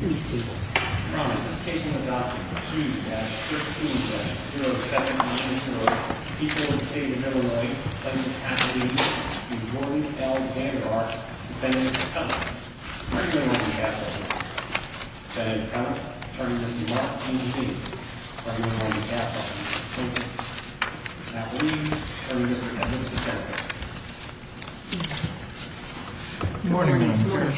Good morning, Mr. Secretary.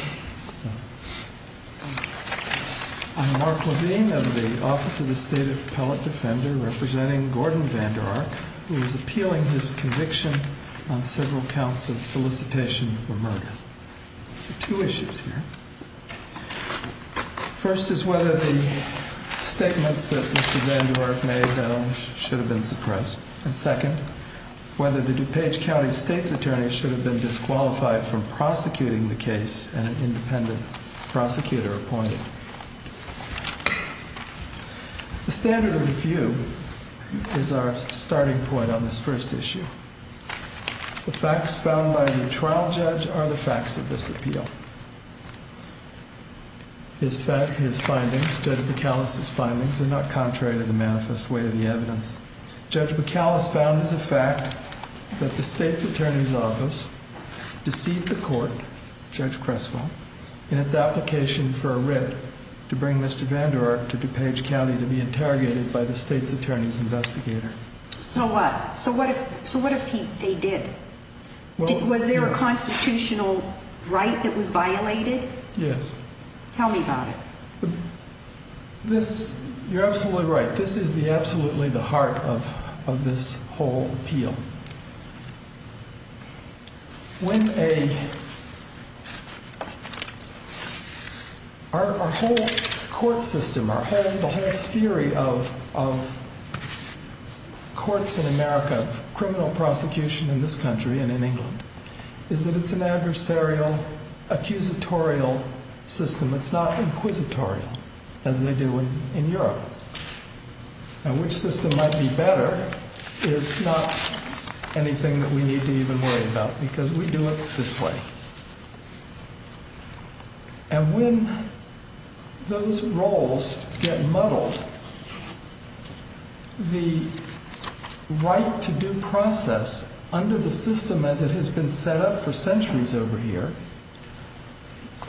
I'm Mark Levine of the Office of the State Appellate Defender, representing Gordon Vanderark, who is appealing his conviction on several counts of solicitation for murder. There are two issues here. First is whether the statements that Mr. Vanderark made should have been suppressed. And second, whether the DuPage County State's attorney should have been disqualified from prosecuting the case and an independent prosecutor appointed. The standard of review is our starting point on this first issue. The facts found by the trial judge are the facts of this appeal. His findings, Judge McAllister's findings, are not contrary to the manifest weight of the evidence. Judge McAllister found as a fact that the state's attorney's office deceived the court, Judge Creswell, in its application for a writ to bring Mr. Vanderark to DuPage County to be interrogated by the state's attorney's investigator. So what? So what if they did? Was there a constitutional right that was violated? Yes. Tell me about it. You're absolutely right. This is absolutely the heart of this whole appeal. Our whole court system, the whole theory of courts in America, of criminal prosecution in this country and in England, is that it's an adversarial, accusatorial system. It's not inquisitorial as they do in Europe. And which system might be better is not anything that we need to even worry about because we do it this way. And when those roles get muddled, the right to due process under the system as it has been set up for centuries over here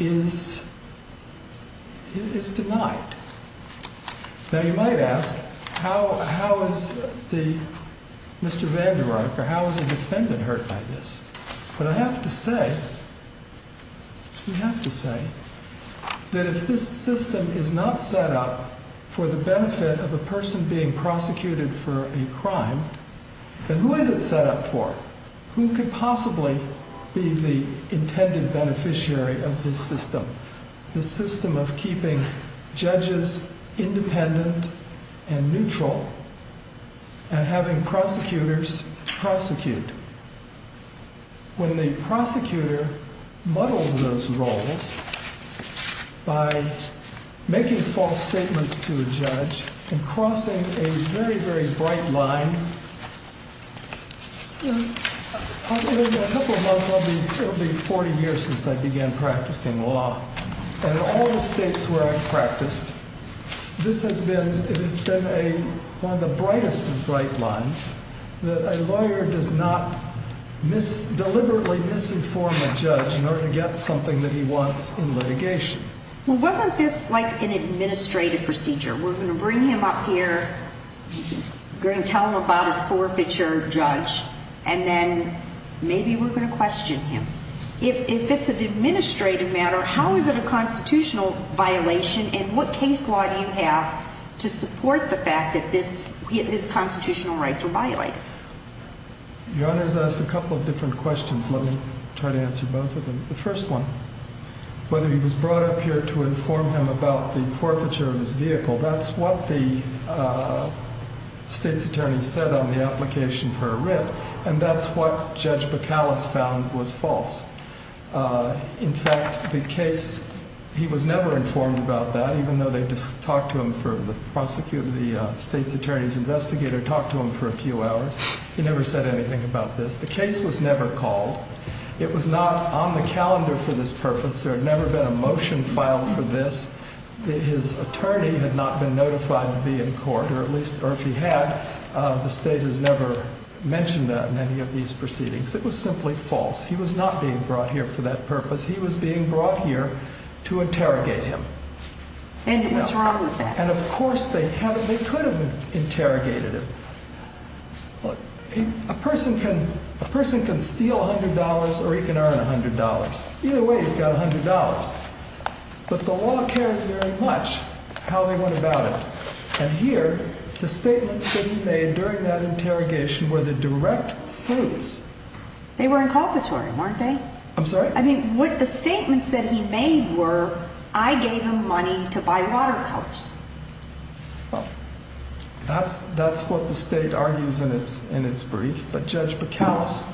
is denied. Now you might ask, how is the, Mr. Vanderark, or how is a defendant hurt by this? But I have to say, we have to say, that if this system is not set up for the benefit of a person being prosecuted for a crime, then who is it set up for? Who could possibly be the intended beneficiary of this system? This system of keeping judges independent and neutral and having prosecutors prosecute. When the prosecutor muddles those roles by making false statements to a judge and crossing a very, very bright line. In a couple of months, it will be 40 years since I began practicing law, and in all the states where I've practiced, this has been one of the brightest of bright lines, that a lawyer does not deliberately misinform a judge in order to get something that he wants in litigation. Well, wasn't this like an administrative procedure? We're going to bring him up here, we're going to tell him about his forfeiture, judge, and then maybe we're going to question him. If it's an administrative matter, how is it a constitutional violation, and what case law do you have to support the fact that his constitutional rights were violated? Your Honor has asked a couple of different questions. Let me try to answer both of them. The first one, whether he was brought up here to inform him about the forfeiture of his vehicle, that's what the state's attorney said on the application for a writ. And that's what Judge Bacalus found was false. In fact, the case, he was never informed about that, even though they talked to him for, the state's attorney's investigator talked to him for a few hours. He never said anything about this. The case was never called. It was not on the calendar for this purpose. There had never been a motion filed for this. His attorney had not been notified to be in court, or at least, or if he had, the state has never mentioned that in any of these proceedings. It was simply false. He was not being brought here for that purpose. He was being brought here to interrogate him. And what's wrong with that? And of course they could have interrogated him. A person can steal $100 or he can earn $100. Either way, he's got $100. But the law cares very much how they went about it. And here, the statements that he made during that interrogation were the direct fruits. They were inculpatory, weren't they? I'm sorry? I mean, what the statements that he made were, I gave him money to buy watercolors. Well, that's what the state argues in its brief. But Judge Bacallus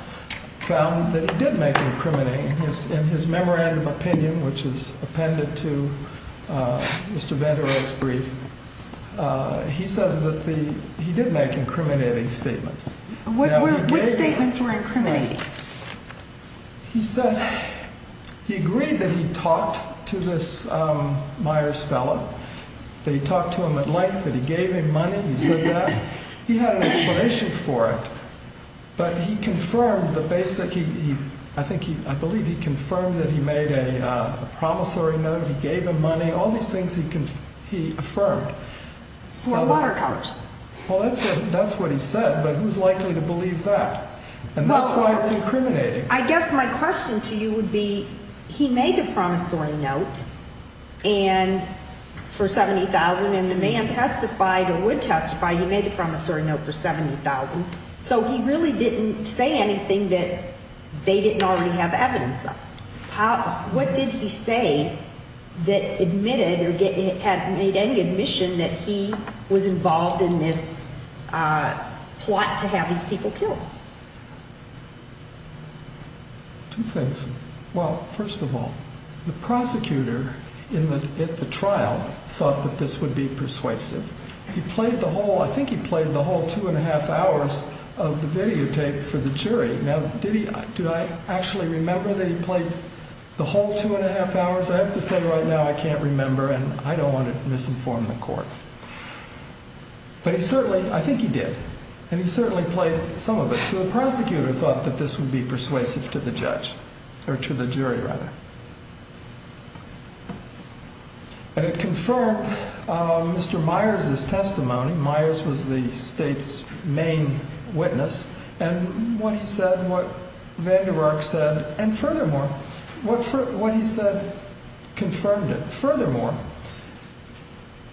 found that he did make incriminating. In his memorandum of opinion, which is appended to Mr. Van Der Rohe's brief, he says that he did make incriminating statements. What statements were incriminating? He said he agreed that he talked to this Myers fellow. That he talked to him at length, that he gave him money. He said that. He had an explanation for it. But he confirmed the basic, I believe he confirmed that he made a promissory note. He gave him money. All these things he affirmed. For watercolors. Well, that's what he said. But who's likely to believe that? And that's why it's incriminating. I guess my question to you would be, he made the promissory note for $70,000. And the man testified, or would testify, he made the promissory note for $70,000. So he really didn't say anything that they didn't already have evidence of. What did he say that admitted or had made any admission that he was involved in this plot to have these people killed? Two things. Well, first of all, the prosecutor at the trial thought that this would be persuasive. He played the whole, I think he played the whole two and a half hours of the videotape for the jury. Now, did he, do I actually remember that he played the whole two and a half hours? I have to say right now I can't remember and I don't want to misinform the court. But he certainly, I think he did. And he certainly played some of it. So the prosecutor thought that this would be persuasive to the judge. Or to the jury, rather. And it confirmed Mr. Myers' testimony. Myers was the state's main witness. And what he said, what Van Der Ark said, and furthermore, what he said confirmed it. Furthermore,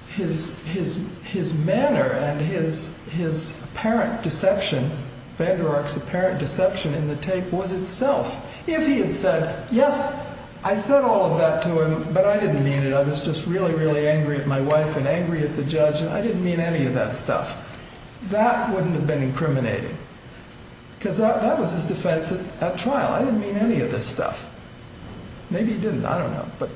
his manner and his apparent deception, Van Der Ark's apparent deception in the tape was itself. If he had said, yes, I said all of that to him, but I didn't mean it. I was just really, really angry at my wife and angry at the judge. And I didn't mean any of that stuff. That wouldn't have been incriminating. Because that was his defense at trial. I didn't mean any of this stuff. Maybe he didn't. I don't know. But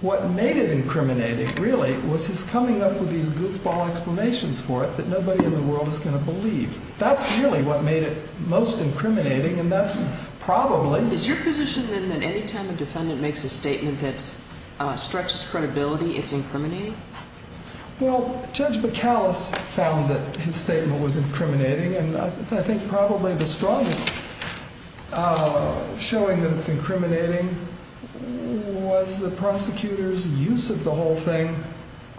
what made it incriminating, really, was his coming up with these goofball explanations for it that nobody in the world is going to believe. That's really what made it most incriminating, and that's probably. Is your position, then, that any time a defendant makes a statement that stretches credibility, it's incriminating? Well, Judge McAllis found that his statement was incriminating. And I think probably the strongest showing that it's incriminating was the prosecutor's use of the whole thing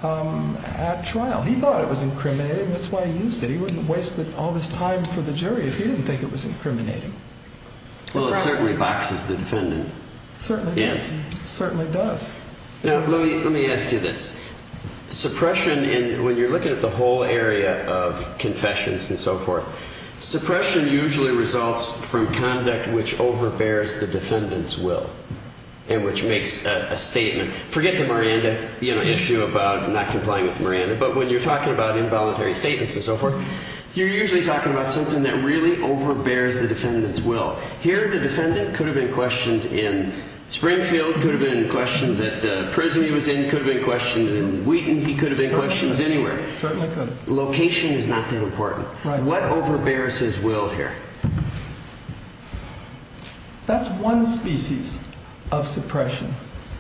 at trial. He thought it was incriminating. That's why he used it. He wouldn't have wasted all this time for the jury if he didn't think it was incriminating. Well, it certainly boxes the defendant. It certainly does. It certainly does. Now, let me ask you this. Suppression, when you're looking at the whole area of confessions and so forth, suppression usually results from conduct which overbears the defendant's will and which makes a statement. Forget the Miranda issue about not complying with Miranda. But when you're talking about involuntary statements and so forth, you're usually talking about something that really overbears the defendant's will. Here, the defendant could have been questioned in Springfield, could have been questioned at the prison he was in, could have been questioned in Wheaton, he could have been questioned anywhere. Certainly could. Location is not that important. Right. What overbears his will here? That's one species of suppression.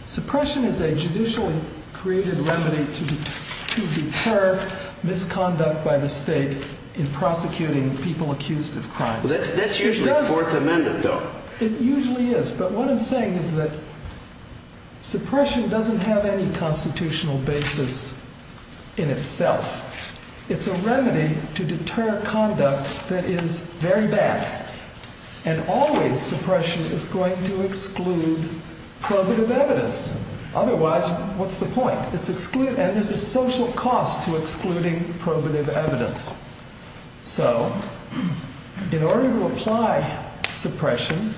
Suppression is a judicially created remedy to deter misconduct by the state in prosecuting people accused of crimes. That's usually Fourth Amendment, though. It usually is. But what I'm saying is that suppression doesn't have any constitutional basis in itself. It's a remedy to deter conduct that is very bad. And always suppression is going to exclude probative evidence. Otherwise, what's the point? And there's a social cost to excluding probative evidence. So in order to apply suppression,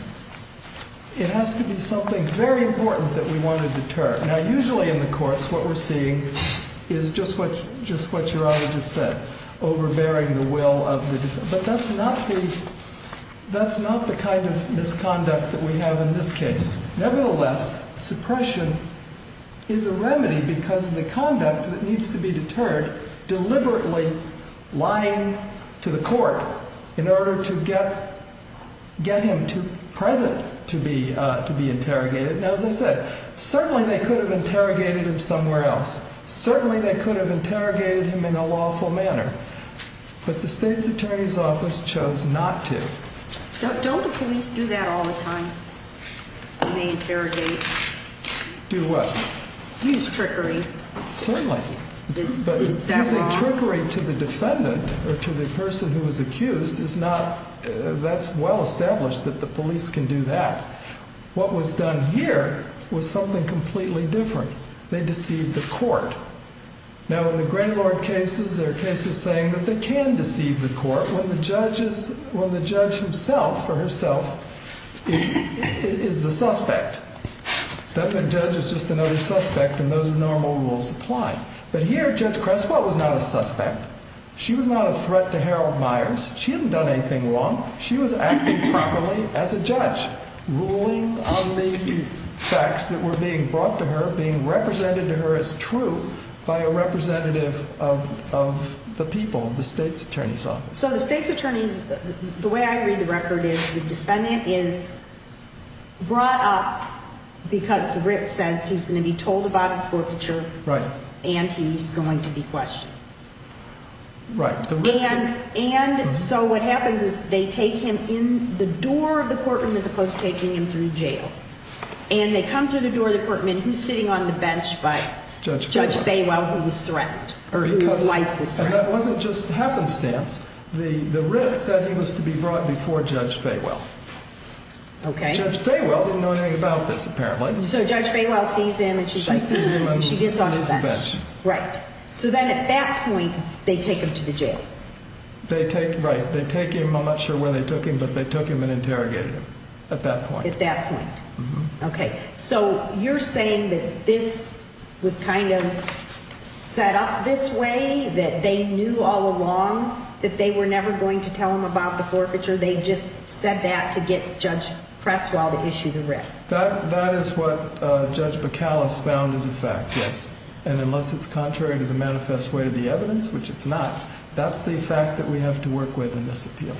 it has to be something very important that we want to deter. Now, usually in the courts what we're seeing is just what Your Honor just said, overbearing the will of the defendant. But that's not the kind of misconduct that we have in this case. Nevertheless, suppression is a remedy because the conduct that needs to be deterred deliberately lying to the court in order to get him present to be interrogated. Now, as I said, certainly they could have interrogated him somewhere else. Certainly they could have interrogated him in a lawful manner. But the state's attorney's office chose not to. Don't the police do that all the time? They interrogate. Do what? Use trickery. Certainly. Is that wrong? Using trickery to the defendant or to the person who was accused is not, that's well established that the police can do that. They deceived the court. Now, in the Graylord cases, there are cases saying that they can deceive the court when the judge himself or herself is the suspect. The judge is just another suspect and those normal rules apply. But here Judge Creswell was not a suspect. She was not a threat to Harold Myers. She hadn't done anything wrong. She was acting properly as a judge, ruling on the facts that were being brought to her, being represented to her as true by a representative of the people, the state's attorney's office. So the state's attorney's, the way I read the record is the defendant is brought up because the writ says he's going to be told about his forfeiture. Right. And he's going to be questioned. Right. And so what happens is they take him in the door of the courtroom as opposed to taking him through jail. And they come through the door of the courtroom and who's sitting on the bench but Judge Faywell who was threatened or whose life was threatened. And that wasn't just happenstance. The writ said he was to be brought before Judge Faywell. Okay. Judge Faywell didn't know anything about this apparently. So Judge Faywell sees him and she's like, she gets on the bench. She sees him and he's on the bench. Right. So then at that point they take him to the jail. They take, right. They take him, I'm not sure where they took him, but they took him and interrogated him at that point. At that point. Okay. So you're saying that this was kind of set up this way that they knew all along that they were never going to tell him about the forfeiture. They just said that to get Judge Presswell to issue the writ. That is what Judge Bacalus found as a fact, yes. And unless it's contrary to the manifest way of the evidence, which it's not, that's the fact that we have to work with in this appeal.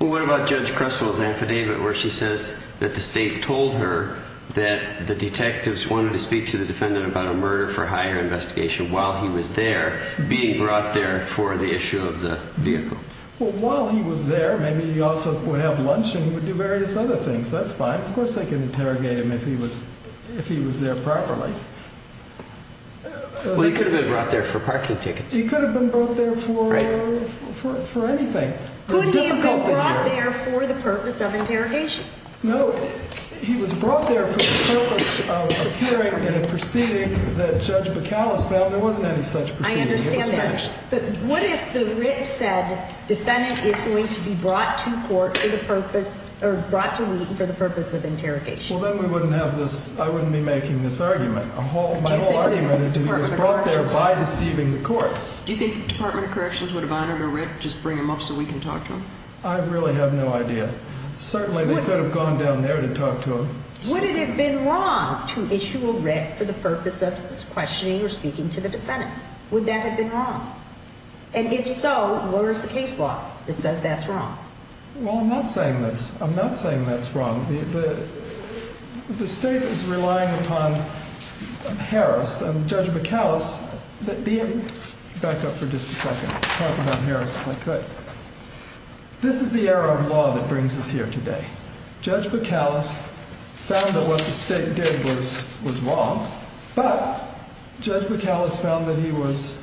Well, what about Judge Presswell's affidavit where she says that the state told her that the detectives wanted to speak to the defendant about a murder for hire investigation while he was there, being brought there for the issue of the vehicle? Well, while he was there, maybe he also would have lunch and he would do various other things. That's fine. Of course, they can interrogate him if he was there properly. Well, he could have been brought there for parking tickets. He could have been brought there for anything. Could he have been brought there for the purpose of interrogation? No. He was brought there for the purpose of hearing in a proceeding that Judge Bacalus found. There wasn't any such proceeding. I understand that. It was finished. But what if the writ said defendant is going to be brought to court for the purpose or brought to Wheaton for the purpose of interrogation? Well, then I wouldn't be making this argument. My whole argument is he was brought there by deceiving the court. Do you think the Department of Corrections would have honored a writ, just bring him up so we can talk to him? I really have no idea. Certainly, they could have gone down there to talk to him. Would it have been wrong to issue a writ for the purpose of questioning or speaking to the defendant? Would that have been wrong? And if so, where is the case law that says that's wrong? Well, I'm not saying that's wrong. The state is relying upon Harris and Judge Bacalus. Back up for just a second. Talk about Harris if I could. This is the era of law that brings us here today. Judge Bacalus found that what the state did was wrong, but Judge Bacalus found that he was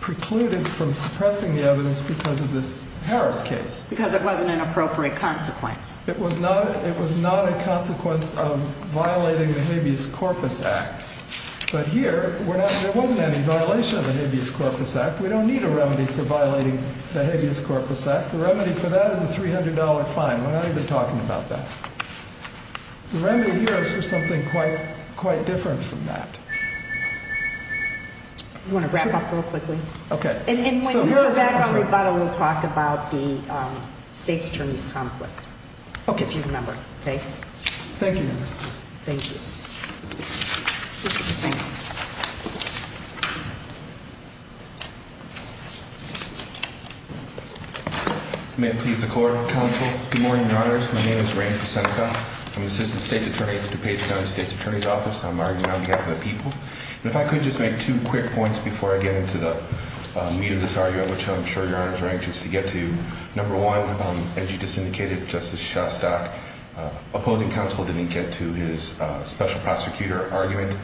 precluded from suppressing the evidence because of this Harris case. Because it wasn't an appropriate consequence. It was not a consequence of violating the Habeas Corpus Act. But here, there wasn't any violation of the Habeas Corpus Act. We don't need a remedy for violating the Habeas Corpus Act. The remedy for that is a $300 fine. We're not even talking about that. The remedy here is for something quite different from that. You want to wrap up real quickly? Okay. And when we come back on rebuttal, we'll talk about the state's attorney's conflict. Okay. If you remember, okay? Thank you. Thank you. May it please the court. Counsel. Good morning, Your Honors. My name is Ray Posenko. I'm the Assistant State's Attorney at the DuPage County State's Attorney's Office. I'm arguing on behalf of the people. And if I could just make two quick points before I get into the meat of this argument, which I'm sure Your Honors are anxious to get to. Number one, as you just indicated, Justice Shostak, opposing counsel didn't get to his special prosecutor argument.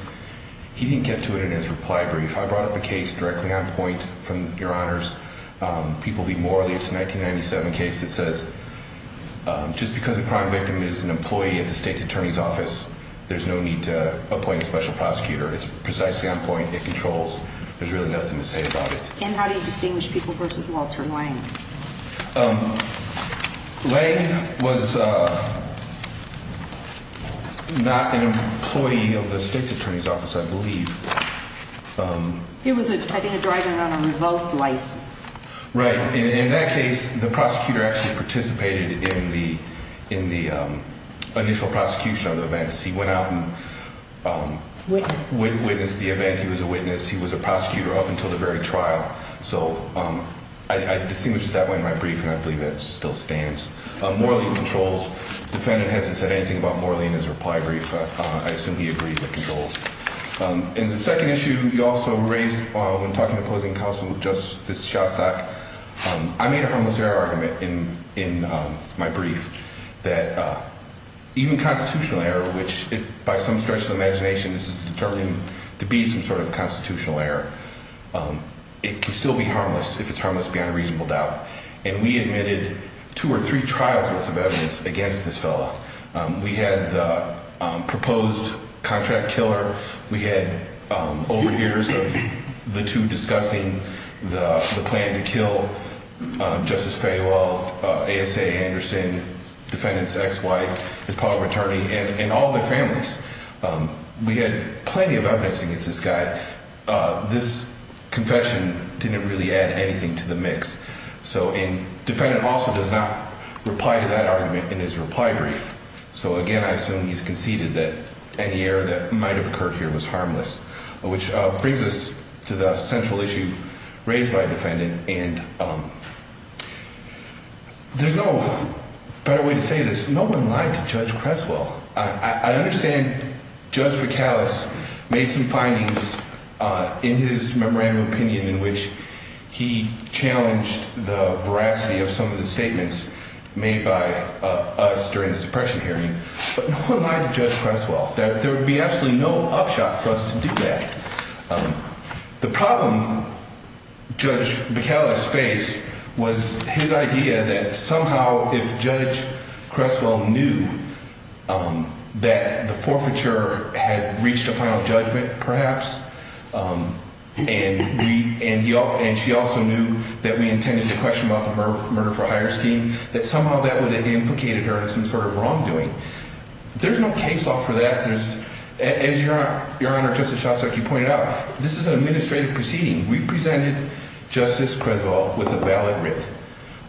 He didn't get to it in his reply brief. I brought up a case directly on point from Your Honors, People v. Morley. It's a 1997 case that says just because a crime victim is an employee at the state's attorney's office, there's no need to appoint a special prosecutor. It's precisely on point. It controls. There's really nothing to say about it. And how do you distinguish People v. Walter Lange? Lange was not an employee of the state's attorney's office, I believe. He was, I think, driving on a revoked license. Right. In that case, the prosecutor actually participated in the initial prosecution of the events. He went out and witnessed the event. He was a witness. He was a prosecutor up until the very trial. So I distinguish that way in my brief, and I believe that still stands. Morley controls. Defendant hasn't said anything about Morley in his reply brief. I assume he agrees with controls. In the second issue, you also raised, when talking to opposing counsel, Justice Shostak, I made a harmless error argument in my brief that even constitutional error, which if by some stretch of imagination this is determined to be some sort of constitutional error, it can still be harmless if it's harmless beyond a reasonable doubt. And we admitted two or three trials worth of evidence against this fellow. We had the proposed contract killer. We had overhears of the two discussing the plan to kill Justice Fayewell, ASA Anderson, defendant's ex-wife, his partner attorney, and all their families. We had plenty of evidence against this guy. This confession didn't really add anything to the mix. So defendant also does not reply to that argument in his reply brief. So, again, I assume he's conceded that any error that might have occurred here was harmless, which brings us to the central issue raised by defendant. And there's no better way to say this. No one lied to Judge Creswell. I understand Judge McAllis made some findings in his memorandum of opinion in which he challenged the veracity of some of the statements made by us during the suppression hearing. But no one lied to Judge Creswell. There would be absolutely no upshot for us to do that. The problem Judge McAllis faced was his idea that somehow if Judge Creswell knew that the forfeiture had reached a final judgment, perhaps, and she also knew that we intended to question about the murder for hire scheme, that somehow that would have implicated her in some sort of wrongdoing. There's no case law for that. As Your Honor, Justice Shostak, you pointed out, this is an administrative proceeding. We presented Justice Creswell with a valid writ,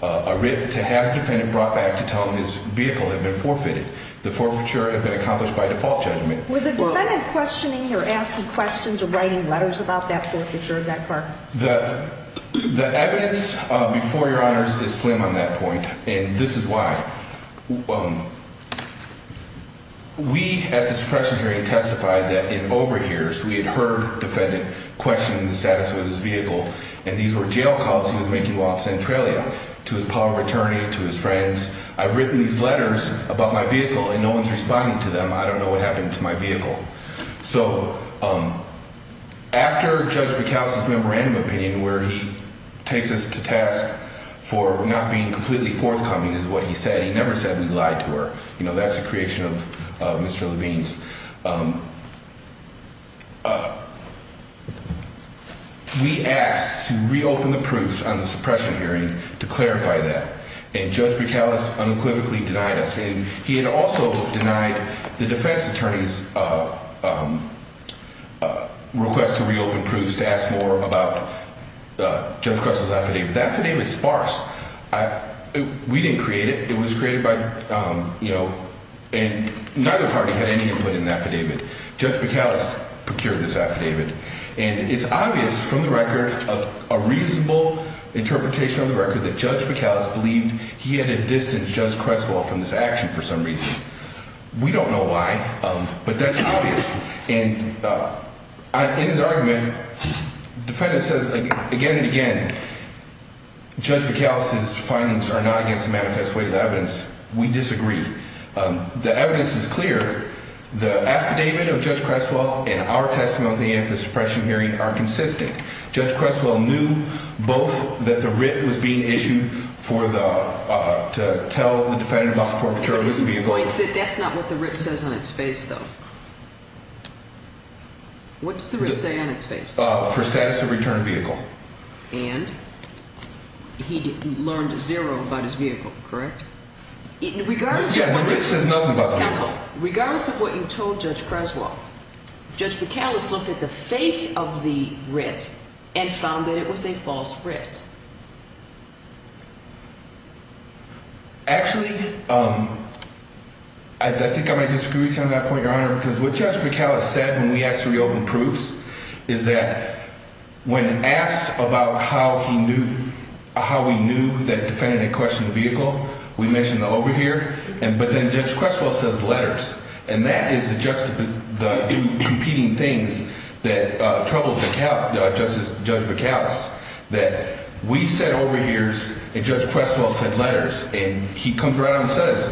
a writ to have the defendant brought back to tell him his vehicle had been forfeited, the forfeiture had been accomplished by default judgment. Was the defendant questioning or asking questions or writing letters about that forfeiture of that car? The evidence before Your Honors is slim on that point, and this is why. We at the suppression hearing testified that in over years we had heard a defendant questioning the status of his vehicle, and these were jail calls he was making while in Centralia to his power of attorney, to his friends. I've written these letters about my vehicle, and no one's responding to them. I don't know what happened to my vehicle. So after Judge Buchalos's memorandum of opinion where he takes us to task for not being completely forthcoming is what he said, he never said we lied to her. You know, that's a creation of Mr. Levine's. We asked to reopen the proofs on the suppression hearing to clarify that, and Judge Buchalos unequivocally denied us. And he had also denied the defense attorney's request to reopen proofs to ask more about Judge Kressel's affidavit. The affidavit's sparse. We didn't create it. It was created by, you know, and neither party had any input in the affidavit. Judge Buchalos procured this affidavit, and it's obvious from the record, a reasonable interpretation on the record that Judge Buchalos believed he had distanced Judge Kressel from this action for some reason. We don't know why, but that's obvious. And in his argument, the defendant says again and again, Judge Buchalos's findings are not against the manifest way of evidence. We disagree. The evidence is clear. The affidavit of Judge Kressel and our testimony at the suppression hearing are consistent. Judge Kressel knew both that the writ was being issued for the, to tell the defendant about the forfeiture of his vehicle. But is the point that that's not what the writ says on its face, though? What does the writ say on its face? For status of return of vehicle. And? He learned zero about his vehicle, correct? Yeah, the writ says nothing about the vehicle. Regardless of what you told Judge Kressel, Judge Buchalos looked at the face of the writ and found that it was a false writ. Actually, I think I might disagree with you on that point, Your Honor, because what Judge Buchalos said when we asked for the open proofs is that when asked about how he knew, how we knew that defendant had questioned the vehicle, we mentioned the over here. But then Judge Kressel says letters. And that is the juxtaposing, the competing things that troubled Judge Buchalos. That we said over heres and Judge Kressel said letters. And he comes right out and says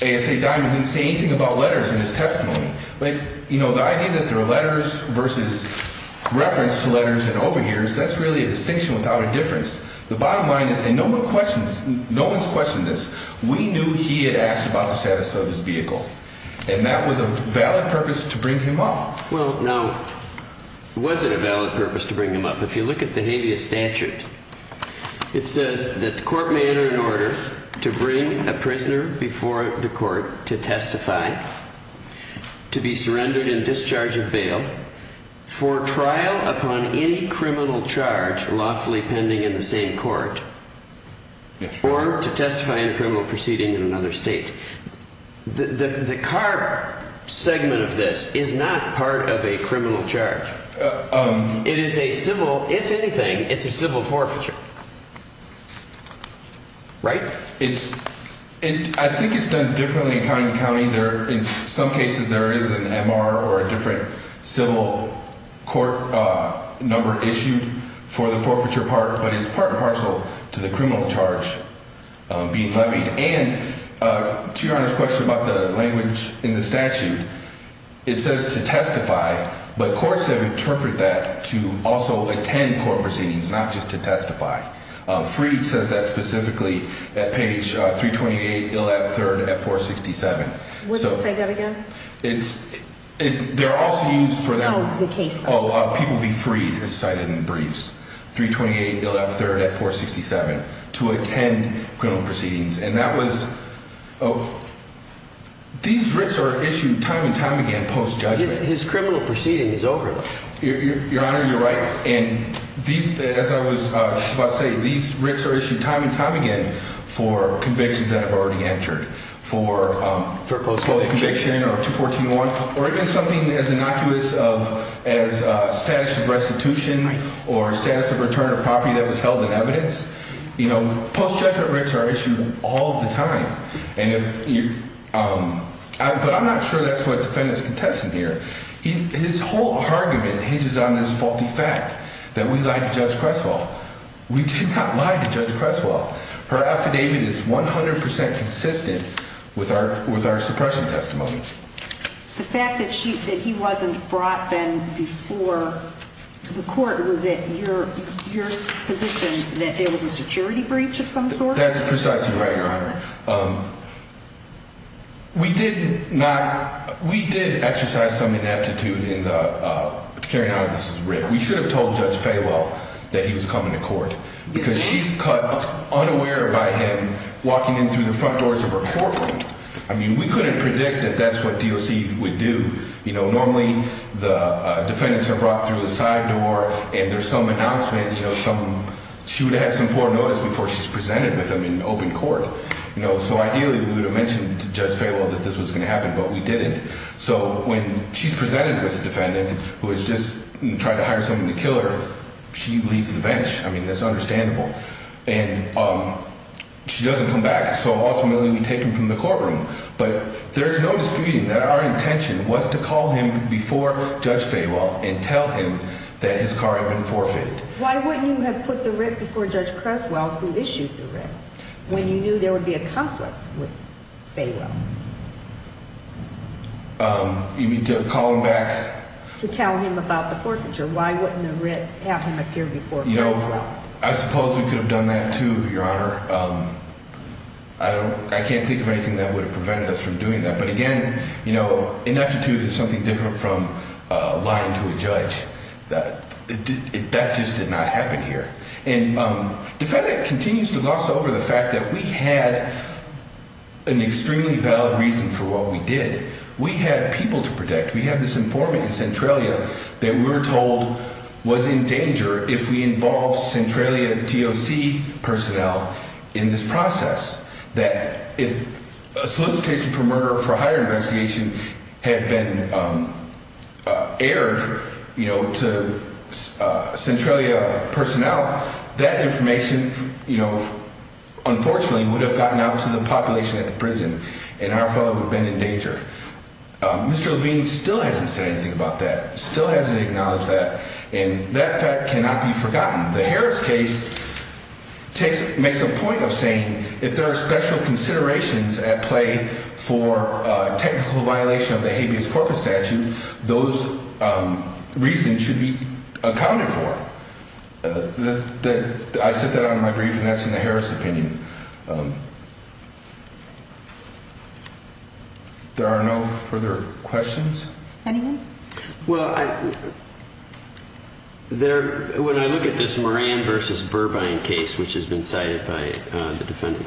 A.S.A. Diamond didn't say anything about letters in his testimony. Like, you know, the idea that there are letters versus reference to letters and over heres, that's really a distinction without a difference. The bottom line is, and no one questions, no one's questioned this, we knew he had asked about the status of his vehicle. And that was a valid purpose to bring him up. Well, now, was it a valid purpose to bring him up? If you look at the habeas statute, it says that the court may enter an order to bring a prisoner before the court to testify, to be surrendered and discharged of bail, for trial upon any criminal charge lawfully pending in the same court, or to testify in a criminal proceeding in another state. The car segment of this is not part of a criminal charge. It is a civil, if anything, it's a civil forfeiture. Right? I think it's done differently in county to county. In some cases there is an M.R. or a different civil court number issued for the forfeiture part. But it's part and parcel to the criminal charge being levied. And to Your Honor's question about the language in the statute, it says to testify, but courts have interpreted that to also attend court proceedings, not just to testify. Freed says that specifically at page 328, ill at third, at 467. What does it say there again? Oh, the case list. People be freed, it's cited in the briefs. 328, ill at third, at 467. To attend criminal proceedings. And that was, these writs are issued time and time again post-judgment. His criminal proceeding is over. Your Honor, you're right. And these, as I was about to say, these writs are issued time and time again for convictions that have already entered. For post-conviction or 214-1 or even something as innocuous as status of restitution or status of return of property that was held in evidence. You know, post-judgment writs are issued all the time. And if you, but I'm not sure that's what the defendant is contesting here. His whole argument hinges on this faulty fact that we lied to Judge Creswell. We did not lie to Judge Creswell. Her affidavit is 100% consistent with our suppression testimony. The fact that he wasn't brought then before the court, was it your position that there was a security breach of some sort? That's precisely right, Your Honor. We did not, we did exercise some ineptitude in the carrying out of this writ. We should have told Judge Faywell that he was coming to court. Because she's caught unaware by him walking in through the front doors of her courtroom. I mean, we couldn't predict that that's what DOC would do. You know, normally the defendants are brought through the side door and there's some announcement, you know, some, she would have had some formal notice before she's presented with them in open court. You know, so ideally we would have mentioned to Judge Faywell that this was going to happen, but we didn't. So when she's presented with a defendant who has just tried to hire someone to kill her, she leaves the bench. I mean, that's understandable. And she doesn't come back, so ultimately we take him from the courtroom. But there's no disputing that our intention was to call him before Judge Faywell and tell him that his car had been forfeited. Why wouldn't you have put the writ before Judge Creswell, who issued the writ, when you knew there would be a conflict with Faywell? You mean to call him back? To tell him about the forfeiture. Why wouldn't the writ have him appear before Creswell? I suppose we could have done that, too, Your Honor. I can't think of anything that would have prevented us from doing that. But again, you know, ineptitude is something different from lying to a judge. That just did not happen here. And the defendant continues to gloss over the fact that we had an extremely valid reason for what we did. We had people to protect. We had this informant in Centralia that we were told was in danger if we involved Centralia DOC personnel in this process. That if a solicitation for murder for hire investigation had been aired to Centralia personnel, that information, unfortunately, would have gotten out to the population at the prison. And our fellow would have been in danger. Mr. Levine still hasn't said anything about that. Still hasn't acknowledged that. And that fact cannot be forgotten. The Harris case makes a point of saying if there are special considerations at play for technical violation of the habeas corpus statute, those reasons should be accounted for. I said that on my brief, and that's in the Harris opinion. There are no further questions? Anyone? Well, when I look at this Moran versus Burbine case, which has been cited by the defendant,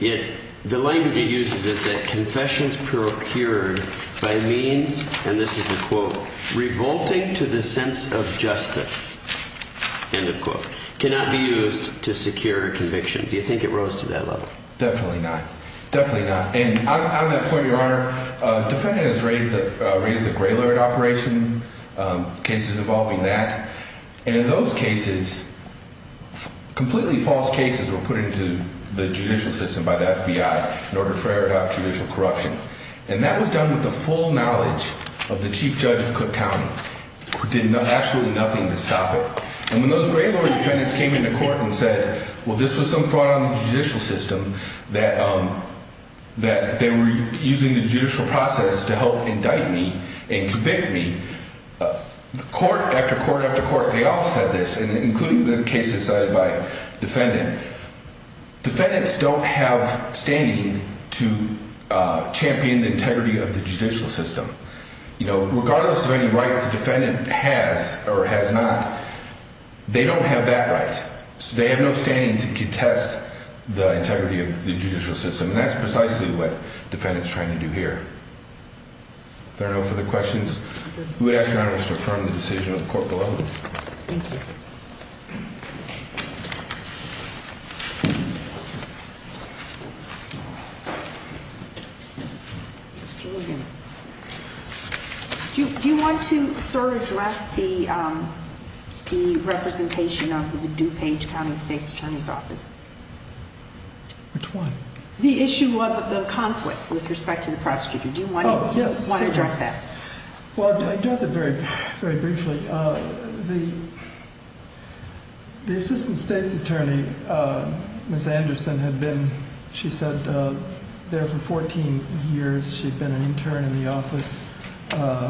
the language he uses is that confessions procured by means, and this is the quote, revolting to the sense of justice, end of quote, cannot be used to secure conviction. Do you think it rose to that level? Definitely not. Definitely not. And on that point, Your Honor, the defendant has raised the Graylord operation, cases involving that. And in those cases, completely false cases were put into the judicial system by the FBI in order to try to adopt judicial corruption. And that was done with the full knowledge of the chief judge of Cook County, who did absolutely nothing to stop it. And when those Graylord defendants came into court and said, well, this was some fraud on the judicial system that they were using the judicial process to help indict me and convict me, court after court after court, they all said this, including the cases cited by the defendant. Defendants don't have standing to champion the integrity of the judicial system. You know, regardless of any right the defendant has or has not, they don't have that right. They have no standing to contest the integrity of the judicial system. And that's precisely what defendants trying to do here. If there are no further questions, we would ask Your Honor to affirm the decision of the court below. Thank you. Do you want to sort of address the representation of the DuPage County State's Attorney's Office? Which one? The issue of the conflict with respect to the prosecutor. Do you want to address that? Well, to address it very briefly. The Assistant State's Attorney, Ms. Anderson, had been, she said, there for 14 years. She'd been an intern in the office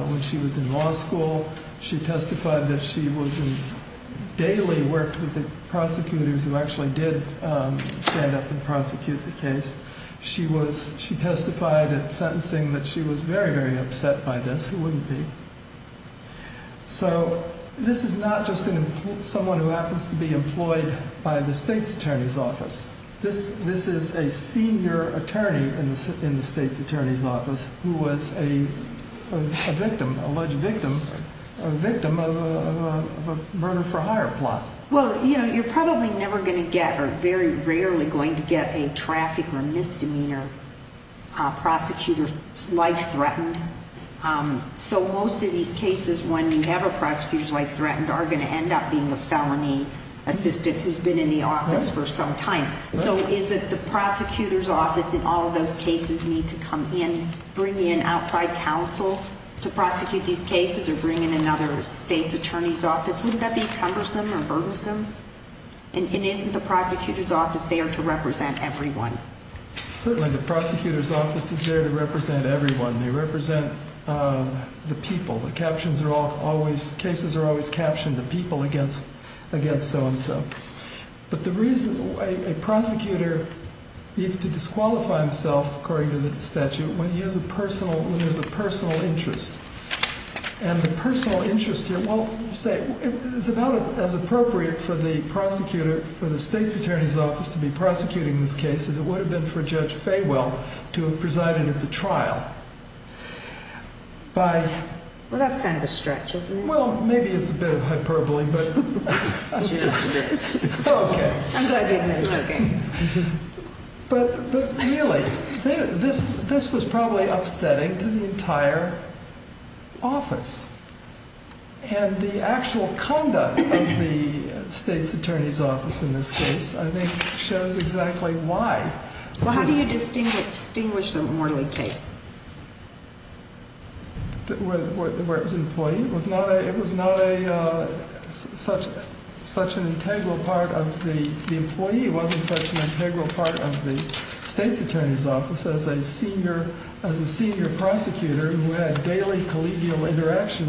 when she was in law school. She testified that she daily worked with the prosecutors who actually did stand up and prosecute the case. She testified at sentencing that she was very, very upset by this. Who wouldn't be? So this is not just someone who happens to be employed by the State's Attorney's Office. This is a senior attorney in the State's Attorney's Office who was a victim, alleged victim, a victim of a murder for hire plot. Well, you know, you're probably never going to get or very rarely going to get a traffic or misdemeanor prosecutor's life threatened. So most of these cases, when you have a prosecutor's life threatened, are going to end up being a felony assistant who's been in the office for some time. So is it the prosecutor's office in all of those cases need to come in, bring in outside counsel to prosecute these cases or bring in another State's Attorney's Office? Wouldn't that be cumbersome or burdensome? And isn't the prosecutor's office there to represent everyone? Certainly the prosecutor's office is there to represent everyone. They represent the people. The captions are always, cases are always captioned, the people against so-and-so. But the reason a prosecutor needs to disqualify himself, according to the statute, when he has a personal, when there's a personal interest. And the personal interest here, well, say, it's about as appropriate for the prosecutor, for the State's Attorney's Office to be prosecuting these cases. It would have been for Judge Faywell to have presided at the trial. By. Well, that's kind of a stretch, isn't it? Well, maybe it's a bit of hyperbole, but. It's just a bit. Okay. I'm glad you admit it. But really, this was probably upsetting to the entire office. And the actual conduct of the State's Attorney's Office in this case, I think, shows exactly why. Well, how do you distinguish the Morley case? Where it was an employee. It was not a, it was not a, such, such an integral part of the employee. It wasn't such an integral part of the State's Attorney's Office as a senior, as a senior prosecutor who had daily collegial interaction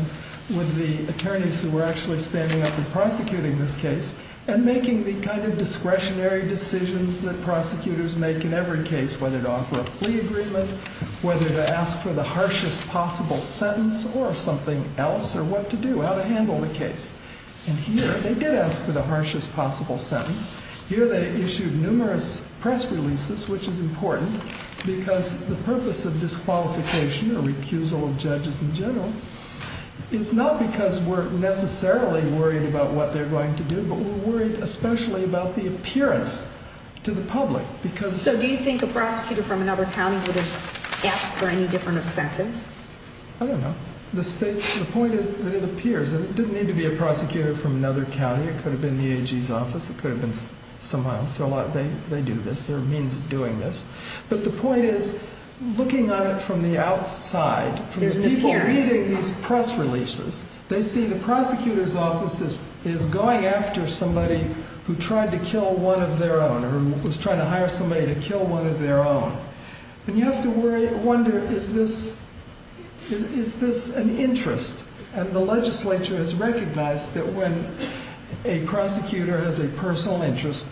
with the attorneys who were actually standing up and prosecuting this case. And making the kind of discretionary decisions that prosecutors make in every case, whether to offer a plea agreement, whether to ask for the harshest possible sentence, or something else, or what to do, how to handle the case. And here, they did ask for the harshest possible sentence. Here, they issued numerous press releases, which is important, because the purpose of disqualification, or recusal of judges in general, is not because we're necessarily worried about what they're going to do, but we're worried especially about the appearance to the public. So, do you think a prosecutor from another county would have asked for any different of sentence? I don't know. The State's, the point is that it appears. And it didn't need to be a prosecutor from another county. It could have been the AG's office. It could have been somehow. They do this. There are means of doing this. But the point is, looking at it from the outside, from people reading these press releases, they see the prosecutor's office is going after somebody who tried to kill one of their own, or who was trying to hire somebody to kill one of their own. And you have to wonder, is this an interest? And the legislature has recognized that when a prosecutor has a personal interest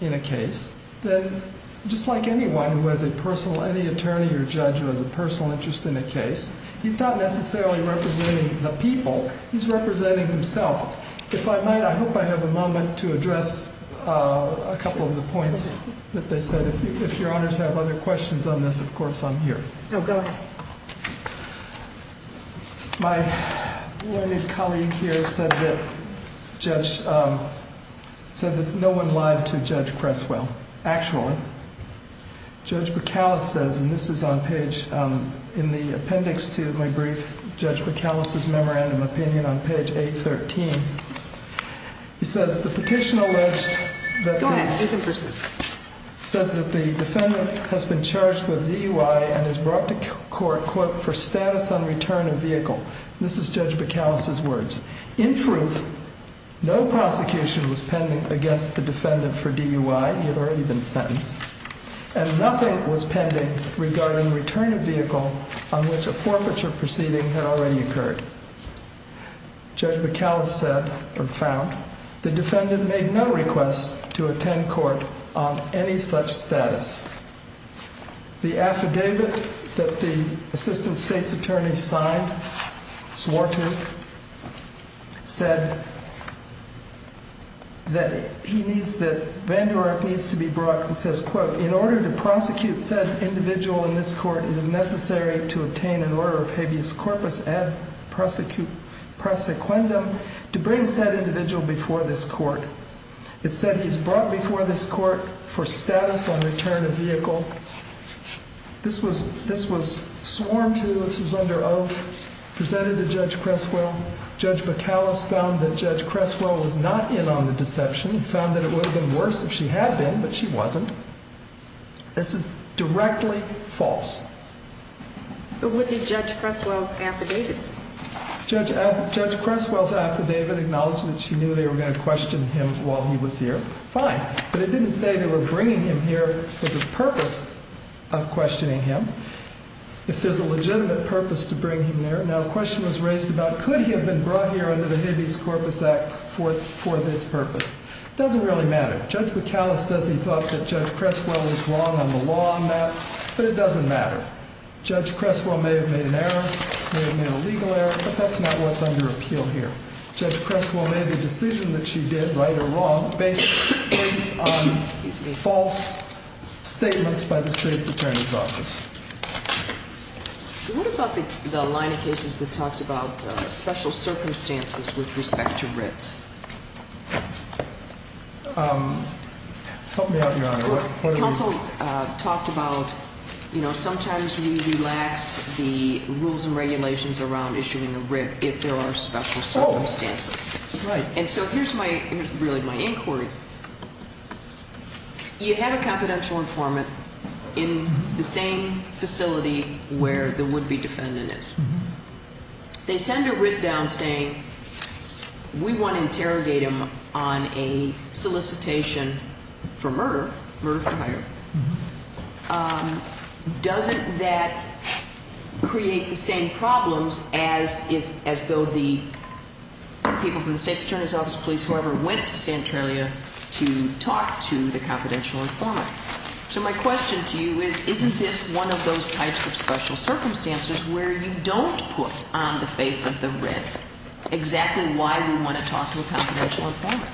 in a case, then just like anyone who has a personal, any attorney or judge who has a personal interest in a case, he's not necessarily representing the people. He's representing himself. If I might, I hope I have a moment to address a couple of the points that they said. If your honors have other questions on this, of course, I'm here. Go ahead. My colleague here said that no one lied to Judge Creswell. Actually, Judge McAuliffe says, and this is on page, in the appendix to my brief, Judge McAuliffe's memorandum opinion on page 813. He says, the petition alleged that the defendant has been charged with DUI and is brought to court, quote, for status on return of vehicle. This is Judge McAuliffe's words. In truth, no prosecution was pending against the defendant for DUI. He had already been sentenced. And nothing was pending regarding return of vehicle on which a forfeiture proceeding had already occurred. Judge McAuliffe said, or found, the defendant made no request to attend court on any such status. The affidavit that the assistant state's attorney signed, swore to, said that he needs, that Van Der Ark needs to be brought, and says, quote, in order to prosecute said individual in this court, it is necessary to obtain an order of habeas corpus ad prosequendum to bring said individual before this court. It said he is brought before this court for status on return of vehicle. This was sworn to, this was under oath, presented to Judge Creswell. Judge McAuliffe found that Judge Creswell was not in on the deception and found that it would have been worse if she had been, but she wasn't. This is directly false. What did Judge Creswell's affidavit say? Judge Creswell's affidavit acknowledged that she knew they were going to question him while he was here. Fine. But it didn't say they were bringing him here for the purpose of questioning him. If there's a legitimate purpose to bring him there. Now, a question was raised about could he have been brought here under the Habeas Corpus Act for this purpose. It doesn't really matter. Judge McAuliffe says he thought that Judge Creswell was wrong on the law on that, but it doesn't matter. Judge Creswell may have made an error, may have made a legal error, but that's not what's under appeal here. Judge Creswell made the decision that she did, right or wrong, based on false statements by the state's attorney's office. What about the line of cases that talks about special circumstances with respect to writs? Help me out, Your Honor. Counsel talked about, you know, sometimes we relax the rules and regulations around issuing a writ if there are special circumstances. Right. And so here's my, here's really my inquiry. You have a confidential informant in the same facility where the would-be defendant is. They send a writ down saying, we want to interrogate him on a solicitation for murder, murder for hire. Doesn't that create the same problems as if, as though the people from the state's attorney's office, police, whoever, went to Santorini to talk to the confidential informant? So my question to you is, isn't this one of those types of special circumstances where you don't put on the face of the writ exactly why we want to talk to a confidential informant?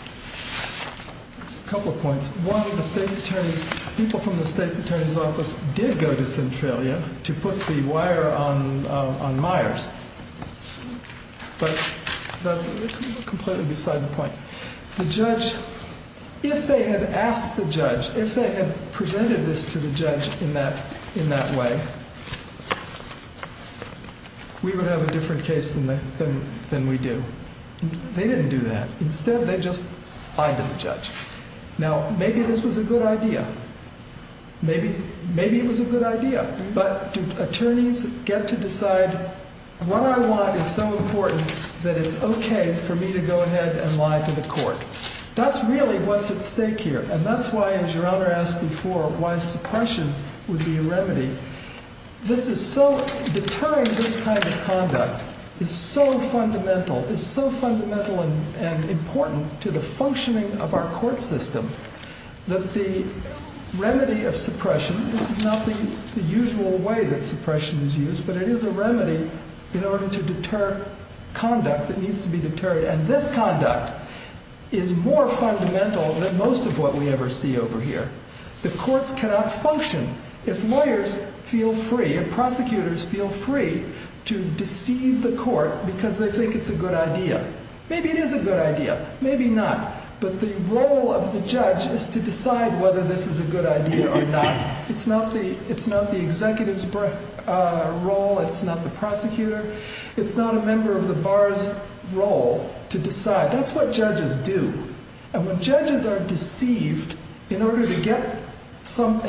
A couple of points. One, the state's attorney's, people from the state's attorney's office did go to Centralia to put the wire on Myers. But that's completely beside the point. The judge, if they had asked the judge, if they had presented this to the judge in that way, we would have a different case than we do. They didn't do that. Instead, they just lied to the judge. Now, maybe this was a good idea. Maybe it was a good idea. But do attorneys get to decide, what I want is so important that it's okay for me to go ahead and lie to the court? That's really what's at stake here. And that's why, as Your Honor asked before, why suppression would be a remedy. Deterring this kind of conduct is so fundamental and important to the functioning of our court system that the remedy of suppression, this is not the usual way that suppression is used, but it is a remedy in order to deter conduct that needs to be deterred. And this conduct is more fundamental than most of what we ever see over here. The courts cannot function. If lawyers feel free, if prosecutors feel free to deceive the court because they think it's a good idea. Maybe it is a good idea. Maybe not. But the role of the judge is to decide whether this is a good idea or not. It's not the executive's role, it's not the prosecutor, it's not a member of the bar's role to decide. That's what judges do. And when judges are deceived in order to get them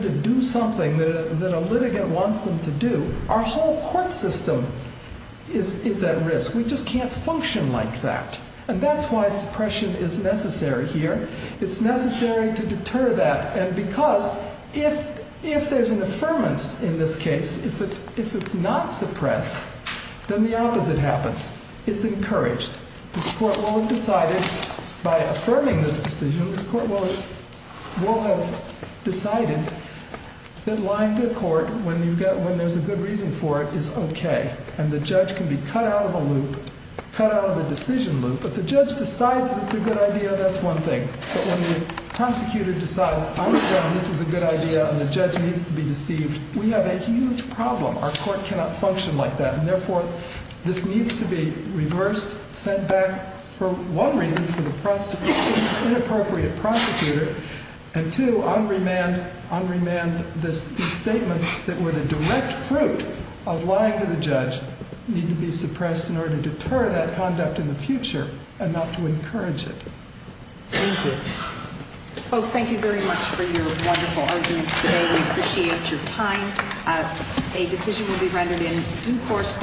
to do something that a litigant wants them to do, our whole court system is at risk. We just can't function like that. And that's why suppression is necessary here. It's necessary to deter that. And because if there's an affirmance in this case, if it's not suppressed, then the opposite happens. It's encouraged. This court will have decided, by affirming this decision, this court will have decided that lying to a court when there's a good reason for it is okay. And the judge can be cut out of the loop, cut out of the decision loop. If the judge decides it's a good idea, that's one thing. But when the prosecutor decides, I'm telling you this is a good idea and the judge needs to be deceived, we have a huge problem. Our court cannot function like that. And, therefore, this needs to be reversed, sent back, for one reason, for the inappropriate prosecutor, and, two, unremand these statements that were the direct fruit of lying to the judge, need to be suppressed in order to deter that conduct in the future and not to encourage it. Thank you. Folks, thank you very much for your wonderful arguments today. We appreciate your time. A decision will be rendered in due course.